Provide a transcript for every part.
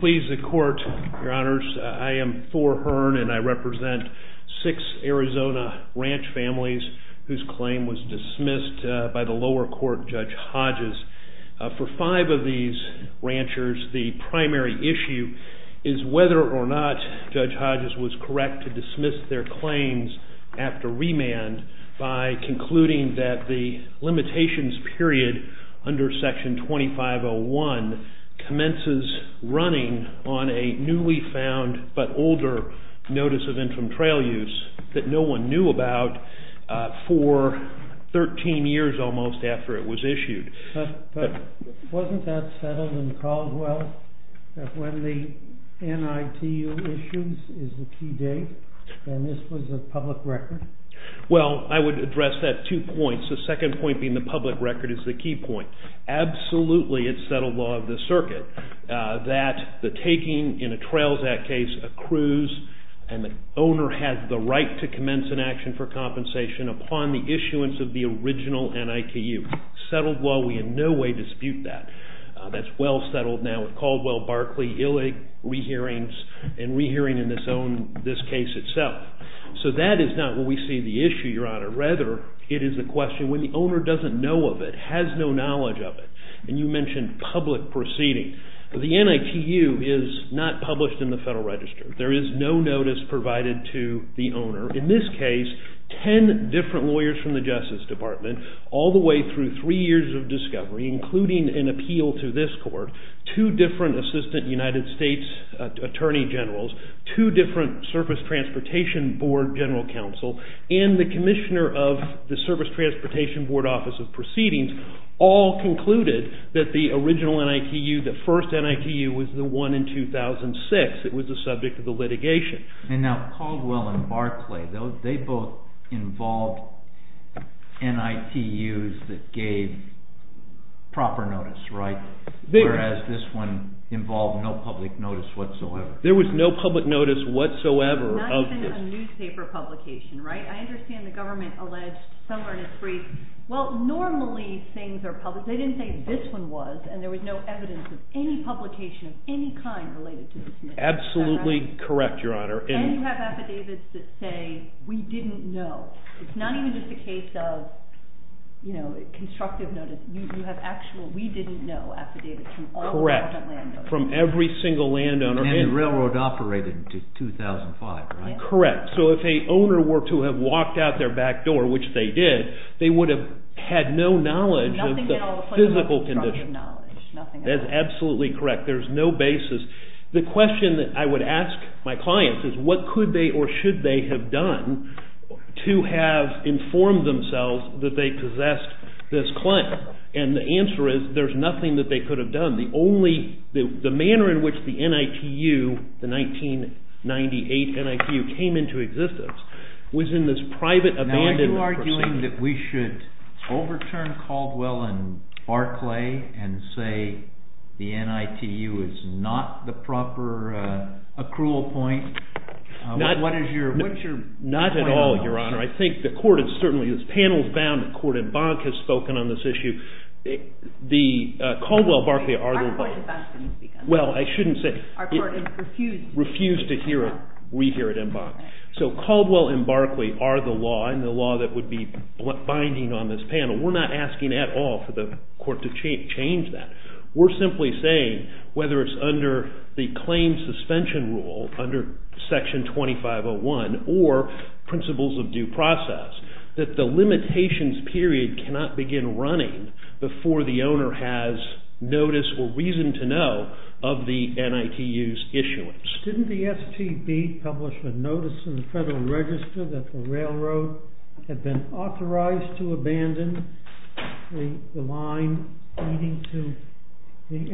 Please the court, your honors, I am Thor Hearn and I represent six Arizona ranch families whose claim was dismissed by the lower court Judge Hodges. For five of these ranchers the primary issue is whether or not Judge Hodges was correct to dismiss their claims after remand by concluding that the limitations period under section 2501 commences running on a newly found but older notice of infantrail use that no one knew about for 13 years almost after it was issued. But wasn't that settled in Caldwell that when the NITU issues is the key date and this was a public record? Well I would address that two points. The second point being the public record is the key point. Absolutely it's settled law of the circuit that the taking in a Trails Act case accrues and the owner has the right to commence an action for compensation upon the issuance of the original NITU. Settled law we in no way dispute that. That's well settled now with Caldwell, Barkley, Illig, re-hearings and re-hearing in this case itself. So that is not what we see the issue Your Honor. Rather it is a question when the owner doesn't know of it, has no knowledge of it and you mentioned public proceeding. The NITU is not published in the Federal Register. There is no notice provided to the owner. In this case ten different lawyers from the Justice Department all the way through three years of discovery including an appeal to this court, two different Assistant United States Attorney Generals, two different Surface Transportation Board General Counsel and the Commissioner of the Surface Transportation Board Office of Proceedings all concluded that the original NITU, the first NITU was the one in 2006. It was the subject of the litigation. And now Caldwell and Barkley, they both involved NITUs that gave proper notice right? Whereas this one involved no public notice whatsoever. There was no public notice whatsoever of this. Not even a newspaper publication right? I understand the government alleged somewhere in its brief, well normally things are published. They didn't say this one was and there was no evidence of any publication of any kind related to this NITU. Absolutely correct Your Honor. And you have affidavits that say we didn't know. It's not even just a case of you know constructive notice. You have actual we didn't know affidavits from all the And the railroad operated until 2005 right? Correct. So if a owner were to have walked out their back door, which they did, they would have had no knowledge of the physical condition. That's absolutely correct. There's no basis. The question that I would ask my clients is what could they or should they have done to have informed themselves that they possessed this claim? And the answer is there's nothing that they could have done. The only, the manner in which the NITU, the 1998 NITU came into existence was in this private abandonment procedure. Now are you arguing that we should overturn Caldwell and Barclay and say the NITU is not the proper accrual point? Not at all Your Honor. I think the court has certainly, this panel has found that the court in Bonk has spoken on this issue. The Caldwell and Barclay are the law. Well I shouldn't say, refuse to hear it, we hear it in Bonk. So Caldwell and Barclay are the law and the law that would be Section 2501 or Principles of Due Process, that the limitations period cannot begin running before the owner has notice or reason to know of the NITU's issuance. Didn't the STB publish a notice in the Federal Register that the railroad had been authorized to abandon the line leading to the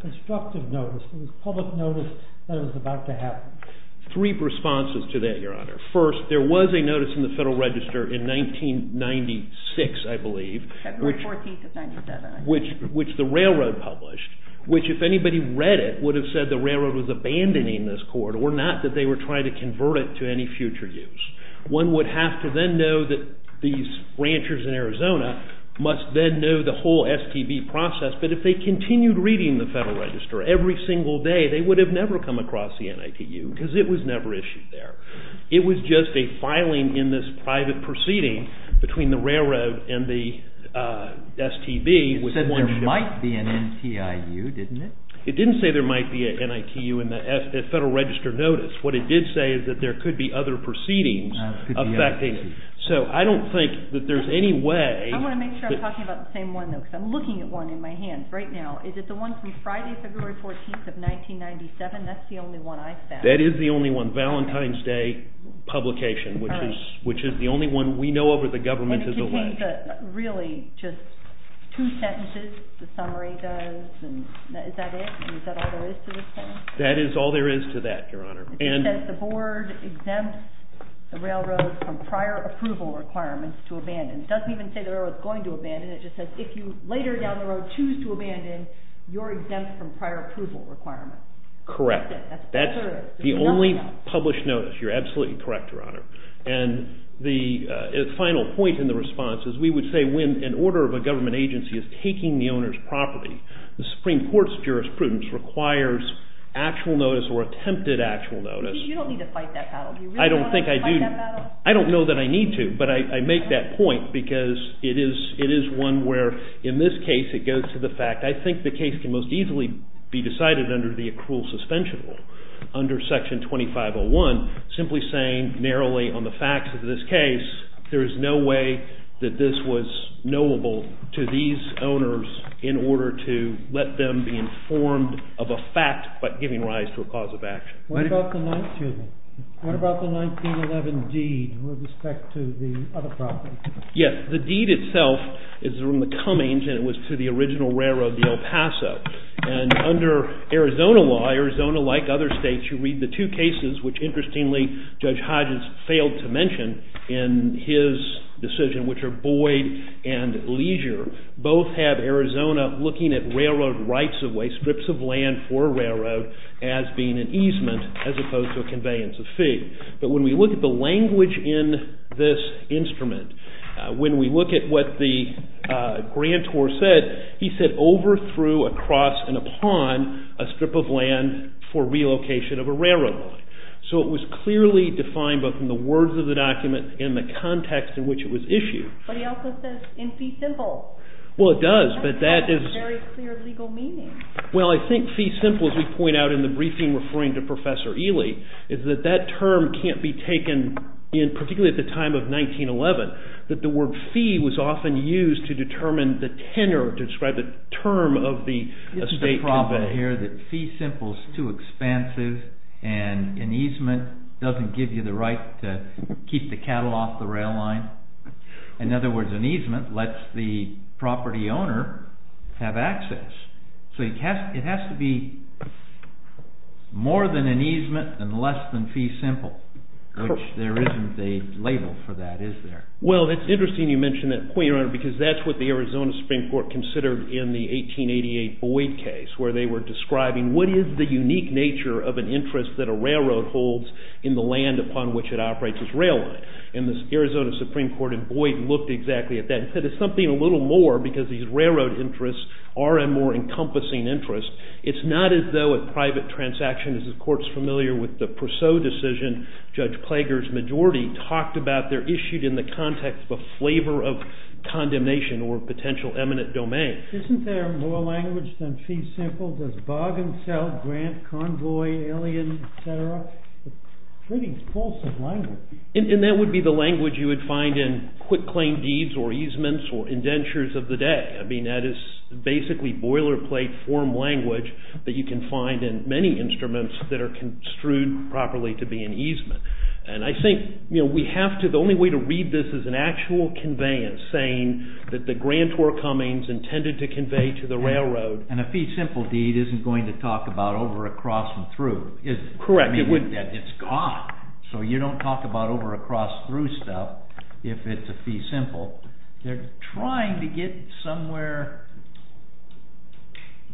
constructive notice, the public notice that was about to happen? Three responses to that Your Honor. First, there was a notice in the Federal Register in 1996 I believe, which the railroad published, which if anybody read it would have said the railroad was abandoning this corridor, not that they were trying to convert it to any future use. One would have to then know that these ranchers in Arizona must then know the whole STB process, but if they continued reading the Federal Register every single day they would have never come across the NITU because it was never issued there. It was just a filing in this private proceeding between the railroad and the STB. It said there might be an NTIU didn't it? It didn't say there might be an NITU in the Federal Register notice. What it did say is that there could be other proceedings affecting it. So I don't think that there's any way... I want to make sure I'm talking about the same one though because I'm looking at one in my hands right now. Is it the one from Friday, February 14th of 1997? That's the only one I've found. That is the only one. Valentine's Day publication, which is the only one we know of where the government has alleged. Really just two sentences, the summary does. Is that it? Is that all there is to this? That is all there is to that, Your Honor. It says the board exempts the railroad from prior approval requirements to abandon. It doesn't even say the railroad is going to abandon, it just says if you later down the road choose to abandon, you're exempt from prior approval requirements. Correct. That's the only published notice. You're absolutely correct, Your Honor. And the final point in the response is we would say when an order of a government agency is taking the owner's property, the Supreme Court's jurisprudence requires actual notice or attempted actual notice. You don't need to fight that battle. Do you really want to fight that battle? I don't think I do. I don't know that I need to, but I make that point because it is one where in this case it goes to the fact. I think the case can most easily be decided under the accrual suspension rule, under Section 2501, simply saying narrowly on the facts of this case there is no way that this was knowable to these owners in order to let them be informed of a fact but giving rise to a cause of action. What about the 1911 deed with respect to the other property? Yes, the deed itself is from the Cummings and it was to the original railroad, the El Paso. And under Arizona law, Arizona, like other states, you read the two cases, which interestingly Judge Hodges failed to mention in his decision, which are Boyd and Leisure, both have Arizona looking at railroad rights of way, strips of land for a railroad as being an easement as opposed to a conveyance of fee. But when we look at the language in this instrument, when we look at what the grantor said, he said over, through, across and upon a strip of land for relocation of a railroad line. So it was clearly defined both in the words of the document and the context in which it was issued. But he also says in fee simple. That doesn't have a very clear legal meaning. Well, I think fee simple, as we point out in the briefing referring to Professor Ely, is that that term can't be taken in particularly at the time of 1911, that the word fee was often used to determine the tenor, to describe the term of the estate company. Well, it's interesting you mention that point, Your Honor, because that's what the Arizona Supreme Court considered in the 1888 Boyd case, where they were trying to determine the tenor. They were describing what is the unique nature of an interest that a railroad holds in the land upon which it operates as rail line. And the Arizona Supreme Court in Boyd looked exactly at that and said it's something a little more, because these railroad interests are a more encompassing interest. It's not as though a private transaction, as the Court's familiar with the Purseau decision, Judge Plager's majority, talked about they're issued in the context of a flavor of condemnation or potential eminent domain. Isn't there more language than fee simple? Does bargain sell, grant, convoy, alien, et cetera? Pretty wholesome language. And that would be the language you would find in quick claim deeds or easements or indentures of the day. I mean, that is basically boilerplate form language that you can find in many instruments that are construed properly to be an easement. And I think, you know, we have to, the only way to read this is an actual conveyance saying that the grant were comings intended to convey to the railroad. And a fee simple deed isn't going to talk about over, across, and through, is it? Correct. It wouldn't. It's gone. So you don't talk about over, across, through stuff if it's a fee simple. They're trying to get somewhere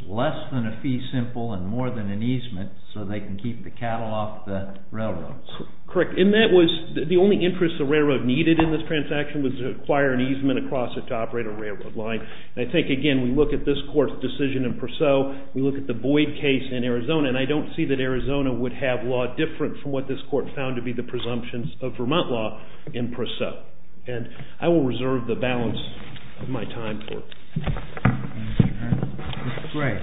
less than a fee simple and more than an easement so they can keep the cattle off the railroad. Correct. And that was, the only interest the railroad needed in this transaction was to acquire an easement across it to operate a railroad line. And I think, again, we look at this court's decision in Perceau, we look at the Boyd case in Arizona, and I don't see that Arizona would have law different from what this court found to be the presumptions of Vermont law in Perceau. And I will reserve the balance of my time for it. Mr. Gray.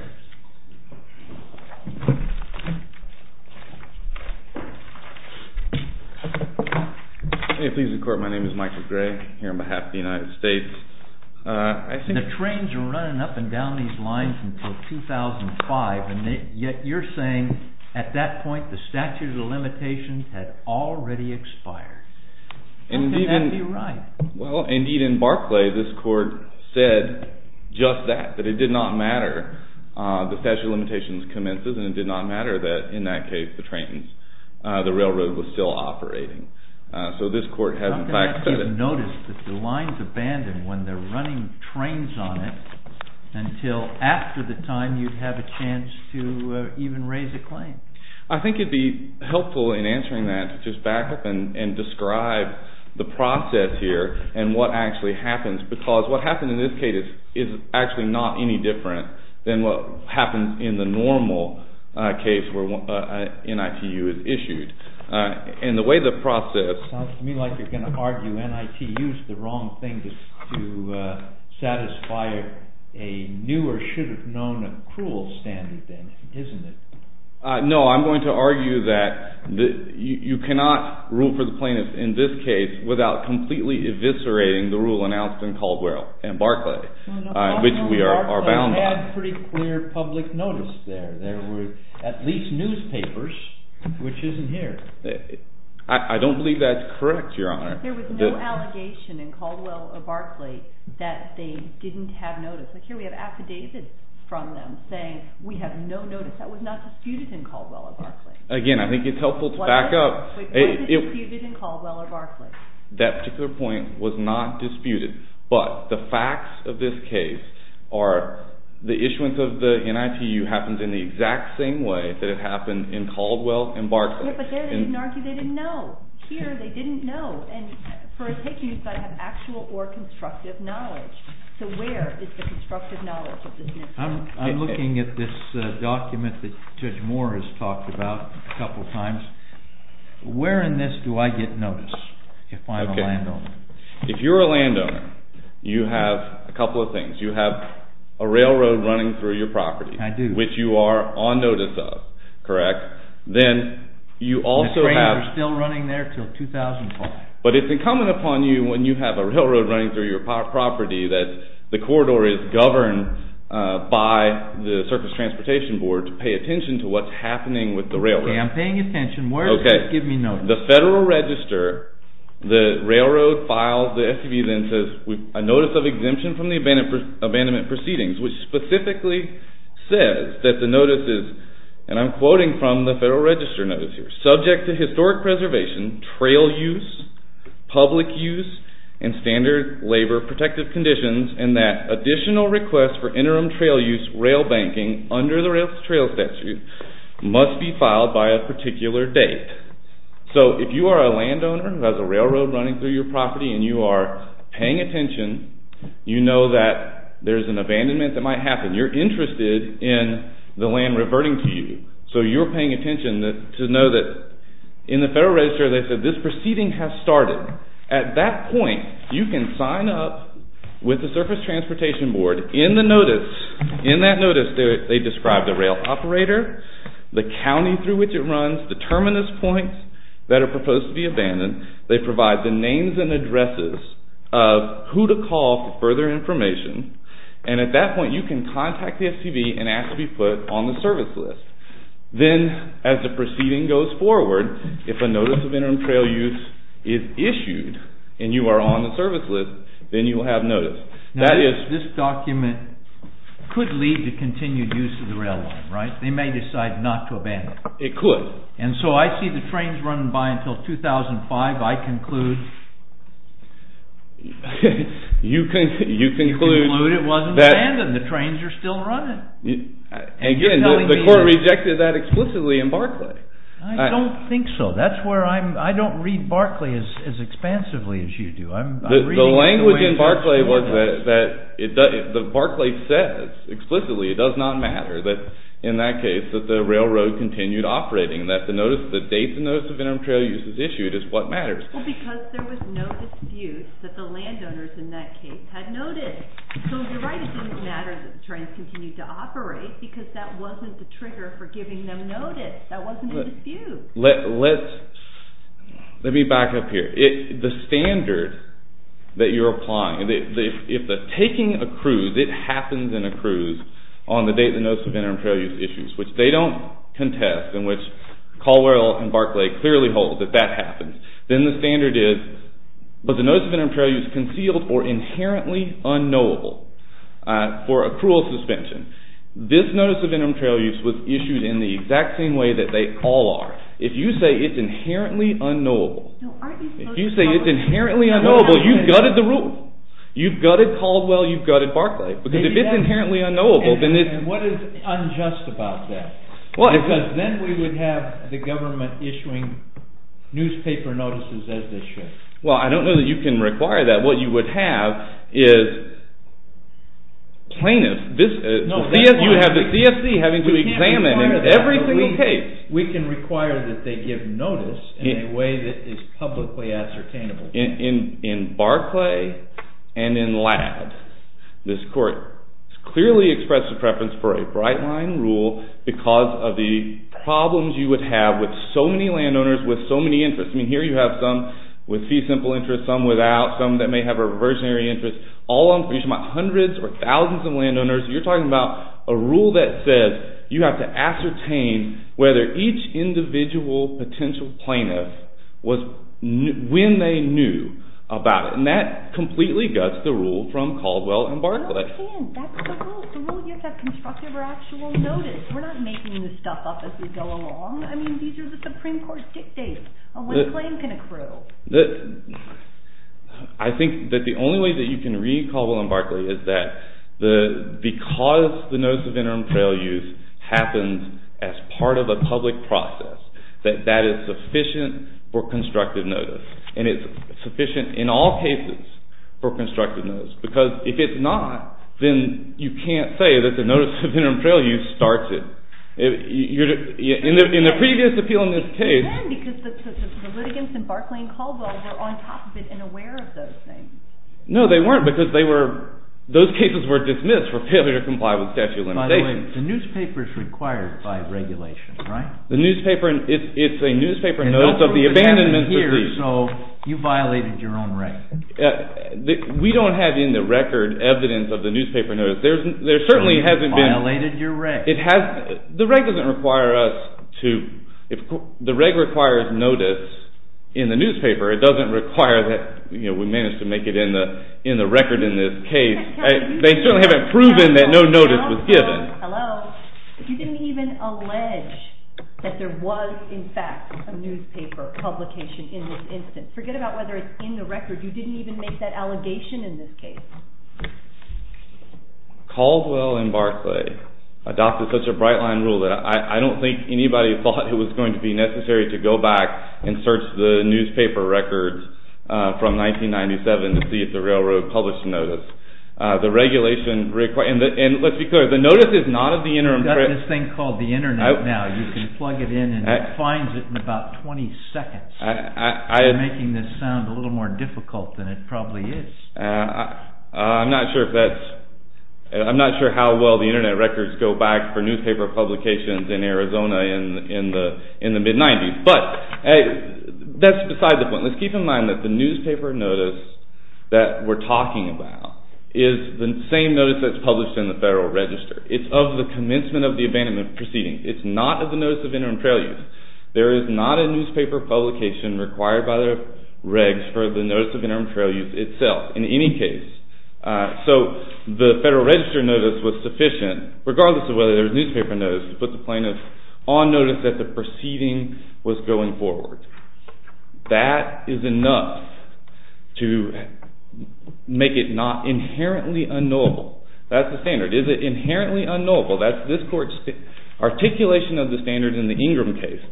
May it please the court, my name is Michael Gray, here on behalf of the United States. The trains were running up and down these lines until 2005, and yet you're saying at that point the statute of limitations had already expired. How can that be right? Well, indeed in Barclay this court said just that, that it did not matter, the statute of limitations commences and it did not matter that in that case the trains, the railroad was still operating. So this court has in fact said it. How can that be noticed that the line's abandoned when they're running trains on it until after the time you'd have a chance to even raise a claim? I think it'd be helpful in answering that to just back up and describe the process here and what actually happens, because what happened in this case is actually not any different than what happens in the normal case where NITU is issued. And the way the process… Sounds to me like you're going to argue NITU's the wrong thing to satisfy a new or should have known accrual standard then, isn't it? No, I'm going to argue that you cannot rule for the plaintiff in this case without completely eviscerating the rule announced in Caldwell and Barclay, which we are bound by. I know Barclay had pretty clear public notice there. There were at least newspapers, which isn't here. I don't believe that's correct, Your Honor. There was no allegation in Caldwell or Barclay that they didn't have notice. Here we have affidavits from them saying we have no notice. That was not disputed in Caldwell or Barclay. Again, I think it's helpful to back up. It wasn't disputed in Caldwell or Barclay. That particular point was not disputed, but the facts of this case are the issuance of the NITU happens in the exact same way that it happened in Caldwell and Barclay. But there they didn't argue, they didn't know. Here they didn't know. And for a patient, you've got to have actual or constructive knowledge. So where is the constructive knowledge of this NITU? I'm looking at this document that Judge Moore has talked about a couple of times. Where in this do I get notice if I'm a landowner? If you're a landowner, you have a couple of things. You have a railroad running through your property. I do. Which you are on notice of, correct? The train is still running there until 2004. But it's incumbent upon you when you have a railroad running through your property that the corridor is governed by the Surface Transportation Board to pay attention to what's happening with the railroad. Okay, I'm paying attention. Where does this give me notice? The Federal Register, the railroad files, the SCB then says a notice of exemption from the abandonment proceedings, which specifically says that the notice is, and I'm quoting from the Federal Register notice here, subject to historic preservation, trail use, public use, and standard labor protective conditions and that additional requests for interim trail use, rail banking, under the railroad trail statute must be filed by a particular date. So if you are a landowner who has a railroad running through your property and you are paying attention, you know that there's an abandonment that might happen. You're interested in the land reverting to you. So you're paying attention to know that in the Federal Register they said this proceeding has started. However, at that point you can sign up with the Surface Transportation Board in the notice. In that notice they describe the rail operator, the county through which it runs, the terminus points that are proposed to be abandoned. They provide the names and addresses of who to call for further information. And at that point you can contact the SCB and ask to be put on the service list. Then as the proceeding goes forward, if a notice of interim trail use is issued and you are on the service list, then you will have notice. Now this document could lead to continued use of the rail line, right? They may decide not to abandon it. It could. And so I see the trains running by until 2005. I conclude... You conclude... You conclude it wasn't abandoned. The trains are still running. Again, the court rejected that explicitly in Barclay. I don't think so. That's where I'm... I don't read Barclay as expansively as you do. The language in Barclay was that Barclay says explicitly it does not matter that in that case that the railroad continued operating. That the date the notice of interim trail use is issued is what matters. Well, because there was no dispute that the landowners in that case had noted. So you're right, it didn't matter that the trains continued to operate because that wasn't the trigger for giving them notice. That wasn't a dispute. Let me back up here. The standard that you're applying, if the taking a cruise, it happens in a cruise, on the date the notice of interim trail use is issued, which they don't contest and which Caldwell and Barclay clearly hold that that happens, then the standard is, was the notice of interim trail use concealed or inherently unknowable for a cruel suspension? This notice of interim trail use was issued in the exact same way that they all are. If you say it's inherently unknowable, you've gutted the rule. You've gutted Caldwell, you've gutted Barclay. Because if it's inherently unknowable, then it's... And what is unjust about that? Because then we would have the government issuing newspaper notices as they should. Well, I don't know that you can require that. What you would have is plainness. You would have the CSC having to examine every single case. We can require that they give notice in a way that is publicly ascertainable. In Barclay and in Ladd, this court clearly expressed a preference for a bright-line rule because of the problems you would have with so many landowners, with so many interests. I mean, here you have some with fee-simple interests, some without, some that may have a reversionary interest. All along, for each of my hundreds or thousands of landowners, you're talking about a rule that says you have to ascertain whether each individual potential plaintiff was... when they knew about it. And that completely guts the rule from Caldwell and Barclay. No, it can't. That's the rule. The rule you have to construct over actual notice. We're not making this stuff up as we go along. I mean, these are the Supreme Court dictates on when a claim can accrue. I think that the only way that you can read Caldwell and Barclay is that because the notice of interim trail use happens as part of a public process, that that is sufficient for constructive notice. And it's sufficient in all cases for constructive notice. Because if it's not, then you can't say that the notice of interim trail use starts it. In the previous appeal in this case... But then, because the litigants in Barclay and Caldwell were on top of it and aware of those things. No, they weren't, because they were... Those cases were dismissed for failure to comply with statute of limitations. By the way, the newspaper is required by regulation, right? The newspaper... It's a newspaper notice of the abandonment... So you violated your own record. We don't have in the record evidence of the newspaper notice. There certainly hasn't been... So you violated your reg. The reg doesn't require us to... The reg requires notice in the newspaper. It doesn't require that we manage to make it in the record in this case. They certainly haven't proven that no notice was given. Hello? You didn't even allege that there was, in fact, a newspaper publication in this instance. Forget about whether it's in the record. You didn't even make that allegation in this case. Caldwell and Barclay adopted such a bright-line rule that I don't think anybody thought it was going to be necessary to go back and search the newspaper records from 1997 to see if the railroad published a notice. The regulation requires... And let's be clear, the notice is not of the interim... You've got this thing called the Internet now. You can plug it in and it finds it in about 20 seconds. You're making this sound a little more difficult than it probably is. I'm not sure if that's... I'm not sure how well the Internet records go back for newspaper publications in Arizona in the mid-'90s. But that's beside the point. Let's keep in mind that the newspaper notice that we're talking about is the same notice that's published in the Federal Register. It's of the commencement of the abandonment proceeding. It's not of the Notice of Interim Trail Use. There is not a newspaper publication required by the reg for the Notice of Interim Trail Use itself in any case. So the Federal Register notice was sufficient, regardless of whether there was newspaper notice, to put the plaintiff on notice that the proceeding was going forward. That is enough to make it not inherently unknowable. That's the standard. Is it inherently unknowable? That's this Court's articulation of the standard in the Ingram case,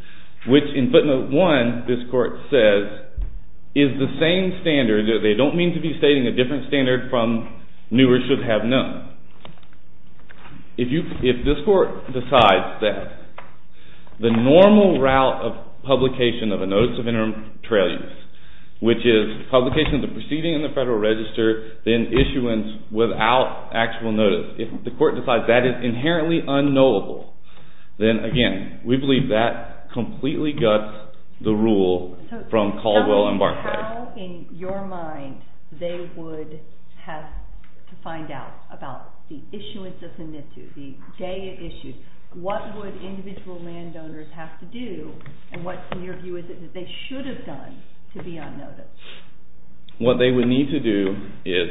which in footnote 1 this Court says is the same standard. They don't mean to be stating a different standard from new or should have known. If this Court decides that the normal route of publication of a Notice of Interim Trail Use, which is publication of the proceeding in the Federal Register, then issuance without actual notice, if the Court decides that is inherently unknowable, then again, we believe that completely guts the rule from Caldwell and Barclay. How, in your mind, they would have to find out about the issuance of the NITU, the day it issued? What would individual landowners have to do? And what, in your view, is it that they should have done to be on notice? What they would need to do is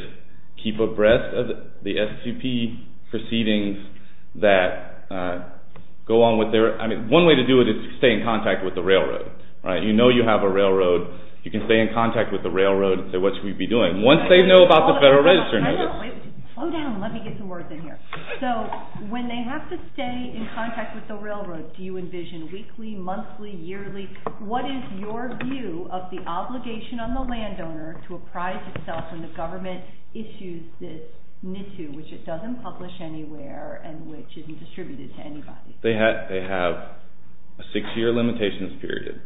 keep abreast of the SQP proceedings that go on with their – I mean, one way to do it is to stay in contact with the railroad. You know you have a railroad. You can stay in contact with the railroad and say, what should we be doing? Once they know about the Federal Register notice – Slow down. Let me get some words in here. So when they have to stay in contact with the railroad, do you envision weekly, monthly, yearly? What is your view of the obligation on the landowner to apprise itself when the government issues this NITU, which it doesn't publish anywhere and which isn't distributed to anybody? They have a six-year limitations period.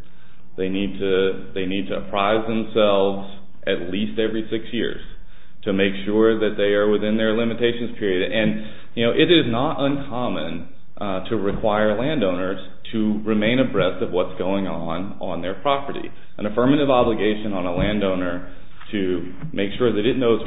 They need to apprise themselves at least every six years to make sure that they are within their limitations period. And it is not uncommon to require landowners to remain abreast of what's going on on their property. An affirmative obligation on a landowner to make sure that it knows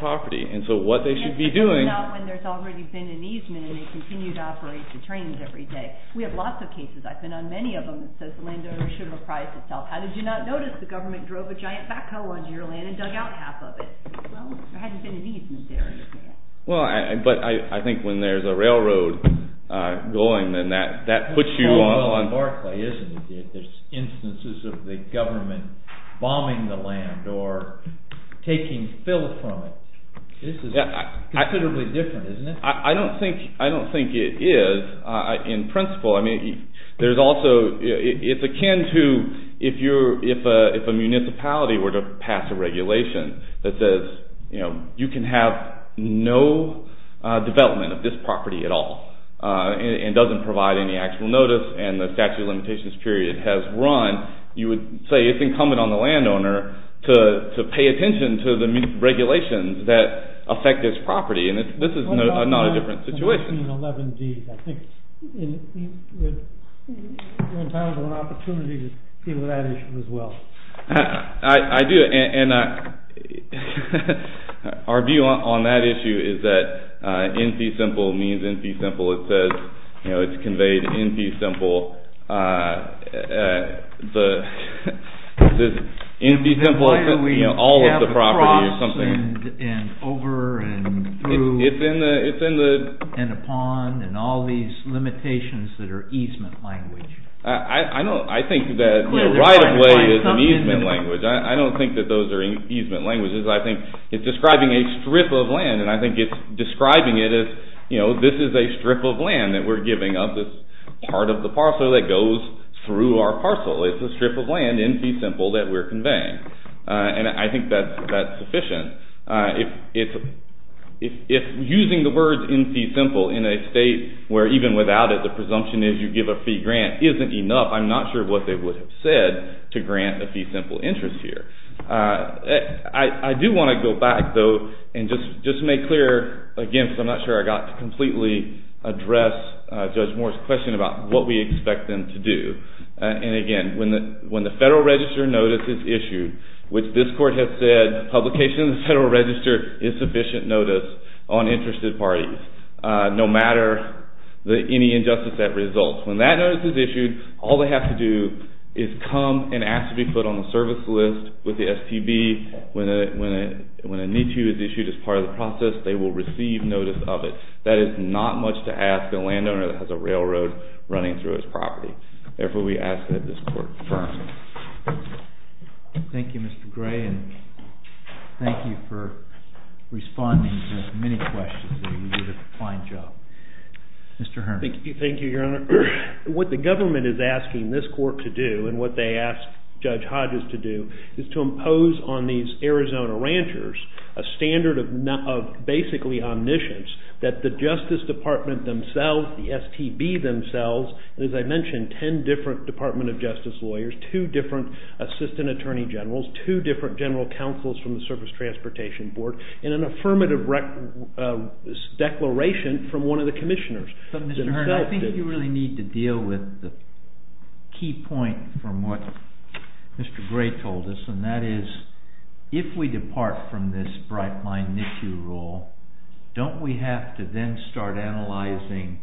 And so what they should be doing – And certainly not when there's already been an easement and they continue to operate the trains every day. We have lots of cases. I've been on many of them. It says the landowner should apprise itself. How did you not notice the government drove a giant backhoe onto your land and dug out half of it? Well, there hadn't been an easement there, you see. Well, but I think when there's a railroad going, then that puts you on – There's small oil in Barclay, isn't there? There's instances of the government bombing the land or taking filth from it. This is considerably different, isn't it? I don't think it is. In principle, I mean, there's also – It's akin to if a municipality were to pass a regulation that says you can have no development of this property at all and doesn't provide any actual notice and the statute of limitations period has run, you would say it's incumbent on the landowner to pay attention to the regulations that affect this property. This is not a different situation. I think we're entitled to an opportunity to deal with that issue as well. I do. Our view on that issue is that in fee simple means in fee simple. It says it's conveyed in fee simple. In fee simple, all of the property or something. Why do we have a cross and over and through and upon and all these limitations that are easement language? I think that right of way is an easement language. I don't think that those are easement languages. I think it's describing a strip of land, and I think it's describing it as this is a strip of land that we're giving up as part of the parcel that goes through our parcel. It's a strip of land in fee simple that we're conveying, and I think that's sufficient. If using the words in fee simple in a state where even without it, the presumption is you give a fee grant isn't enough, I'm not sure what they would have said to grant a fee simple interest here. I do want to go back, though, and just make clear, again, because I'm not sure I got to completely address Judge Moore's question about what we expect them to do. Again, when the Federal Register notice is issued, which this court has said publication of the Federal Register is sufficient notice on interested parties, no matter any injustice that results. When that notice is issued, all they have to do is come and ask to be put on the service list with the STB. When a need-to is issued as part of the process, they will receive notice of it. That is not much to ask a landowner that has a railroad running through his property. Therefore, we ask that this court confirm. Thank you, Mr. Gray, and thank you for responding to many questions. Mr. Herman. Thank you, Your Honor. What the government is asking this court to do and what they ask Judge Hodges to do is to impose on these Arizona ranchers a standard of basically omniscience that the Justice Department themselves, the STB themselves, as I mentioned, 10 different Department of Justice lawyers, two different assistant attorney generals, two different general counsels from the Service Transportation Board, and an affirmative declaration from one of the commissioners. But, Mr. Herman, I think you really need to deal with the key point from what Mr. Gray told us, and that is if we depart from this bright-line NICU rule, don't we have to then start analyzing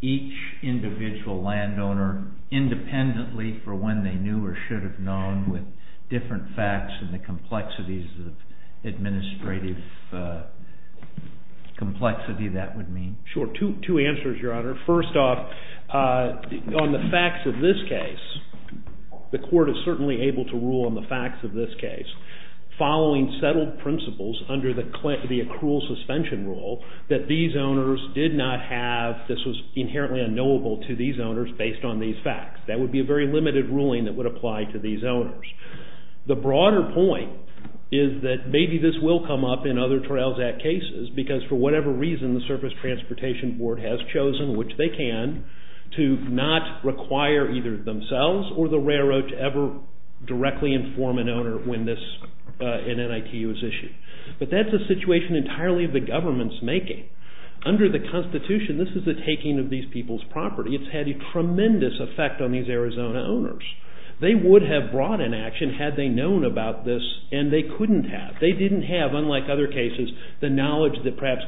each individual landowner independently for when they knew or should have known with different facts and the complexities of administrative complexity, that would mean? Sure. Two answers, Your Honor. First off, on the facts of this case, the court is certainly able to rule on the facts of this case following settled principles under the accrual suspension rule that these owners did not have, this was inherently unknowable to these owners based on these facts. That would be a very limited ruling that would apply to these owners. The broader point is that maybe this will come up in other Trails Act cases because, for whatever reason, the Service Transportation Board has chosen, which they can, to not require either themselves or the railroad to ever directly inform an owner when an NICU is issued. But that's a situation entirely of the government's making. Under the Constitution, this is the taking of these people's property. It's had a tremendous effect on these Arizona owners. They would have brought an action had they known about this, and they couldn't have. They didn't have, unlike other cases, the knowledge that perhaps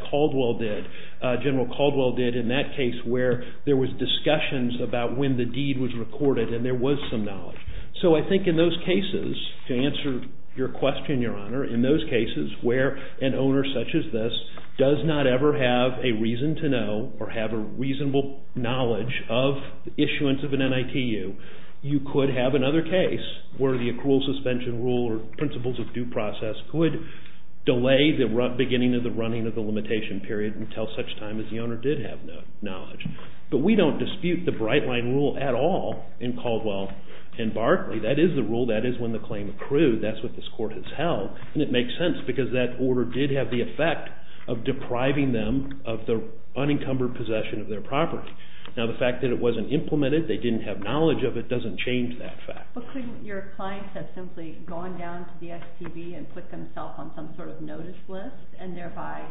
General Caldwell did in that case where there was discussions about when the deed was recorded and there was some knowledge. So I think in those cases, to answer your question, Your Honor, in those cases where an owner such as this does not ever have a reason to know or have a reasonable knowledge of the issuance of an NICU, you could have another case where the accrual suspension rule or principles of due process could delay the beginning of the running of the limitation period until such time as the owner did have knowledge. But we don't dispute the Bright Line rule at all in Caldwell and Barclay. That is the rule. That is when the claim accrued. That's what this Court has held, and it makes sense because that order did have the effect of depriving them of the unencumbered possession of their property. Now, the fact that it wasn't implemented, they didn't have knowledge of it, doesn't change that fact. But couldn't your clients have simply gone down to the STB and put themselves on some sort of notice list and thereby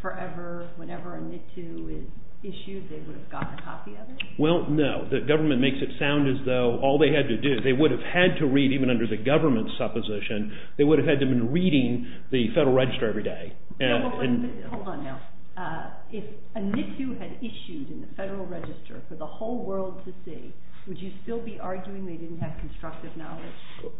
forever, whenever a NICU is issued, they would have gotten a copy of it? Well, no. The government makes it sound as though all they had to do, they would have had to read, even under the government's supposition, they would have had to have been reading the Federal Register every day. Hold on now. If a NICU had issued in the Federal Register for the whole world to see, would you still be arguing they didn't have constructive knowledge?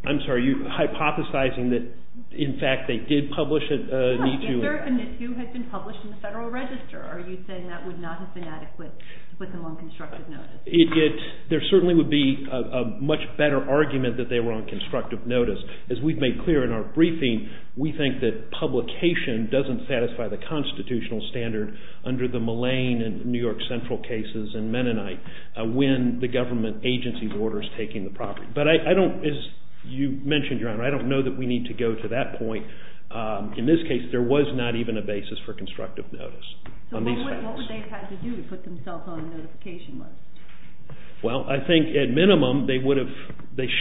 I'm sorry. Are you hypothesizing that, in fact, they did publish a NICU? Well, if a NICU had been published in the Federal Register, are you saying that would not have been adequate to put them on constructive notice? There certainly would be a much better argument that they were on constructive notice. As we've made clear in our briefing, we think that publication doesn't satisfy the constitutional standard under the Mullane and New York Central cases and Mennonite. When the government agency orders taking the property. But I don't, as you mentioned, Your Honor, I don't know that we need to go to that point. In this case, there was not even a basis for constructive notice. So what would they have had to do to put themselves on the notification list? Well, I think, at minimum, they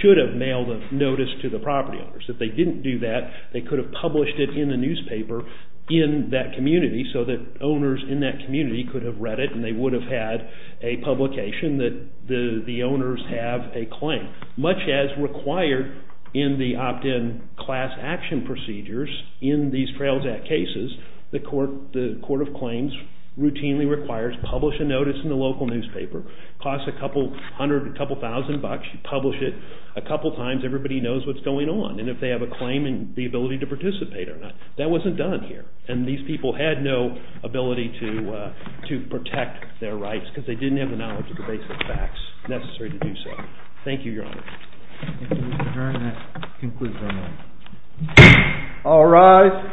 should have mailed a notice to the property owners. If they didn't do that, they could have published it in the newspaper in that community so that owners in that community could have read it and they would have had a publication that the owners have a claim. Much as required in the opt-in class action procedures in these Trails Act cases, the Court of Claims routinely requires publish a notice in the local newspaper. It costs a couple hundred, a couple thousand bucks. You publish it a couple times, everybody knows what's going on. And if they have a claim and the ability to participate or not. That wasn't done here. And these people had no ability to protect their rights because they didn't have the knowledge of the basic facts necessary to do so. Thank you, Your Honor. Thank you, Mr. Vernon. That concludes our meeting. All rise.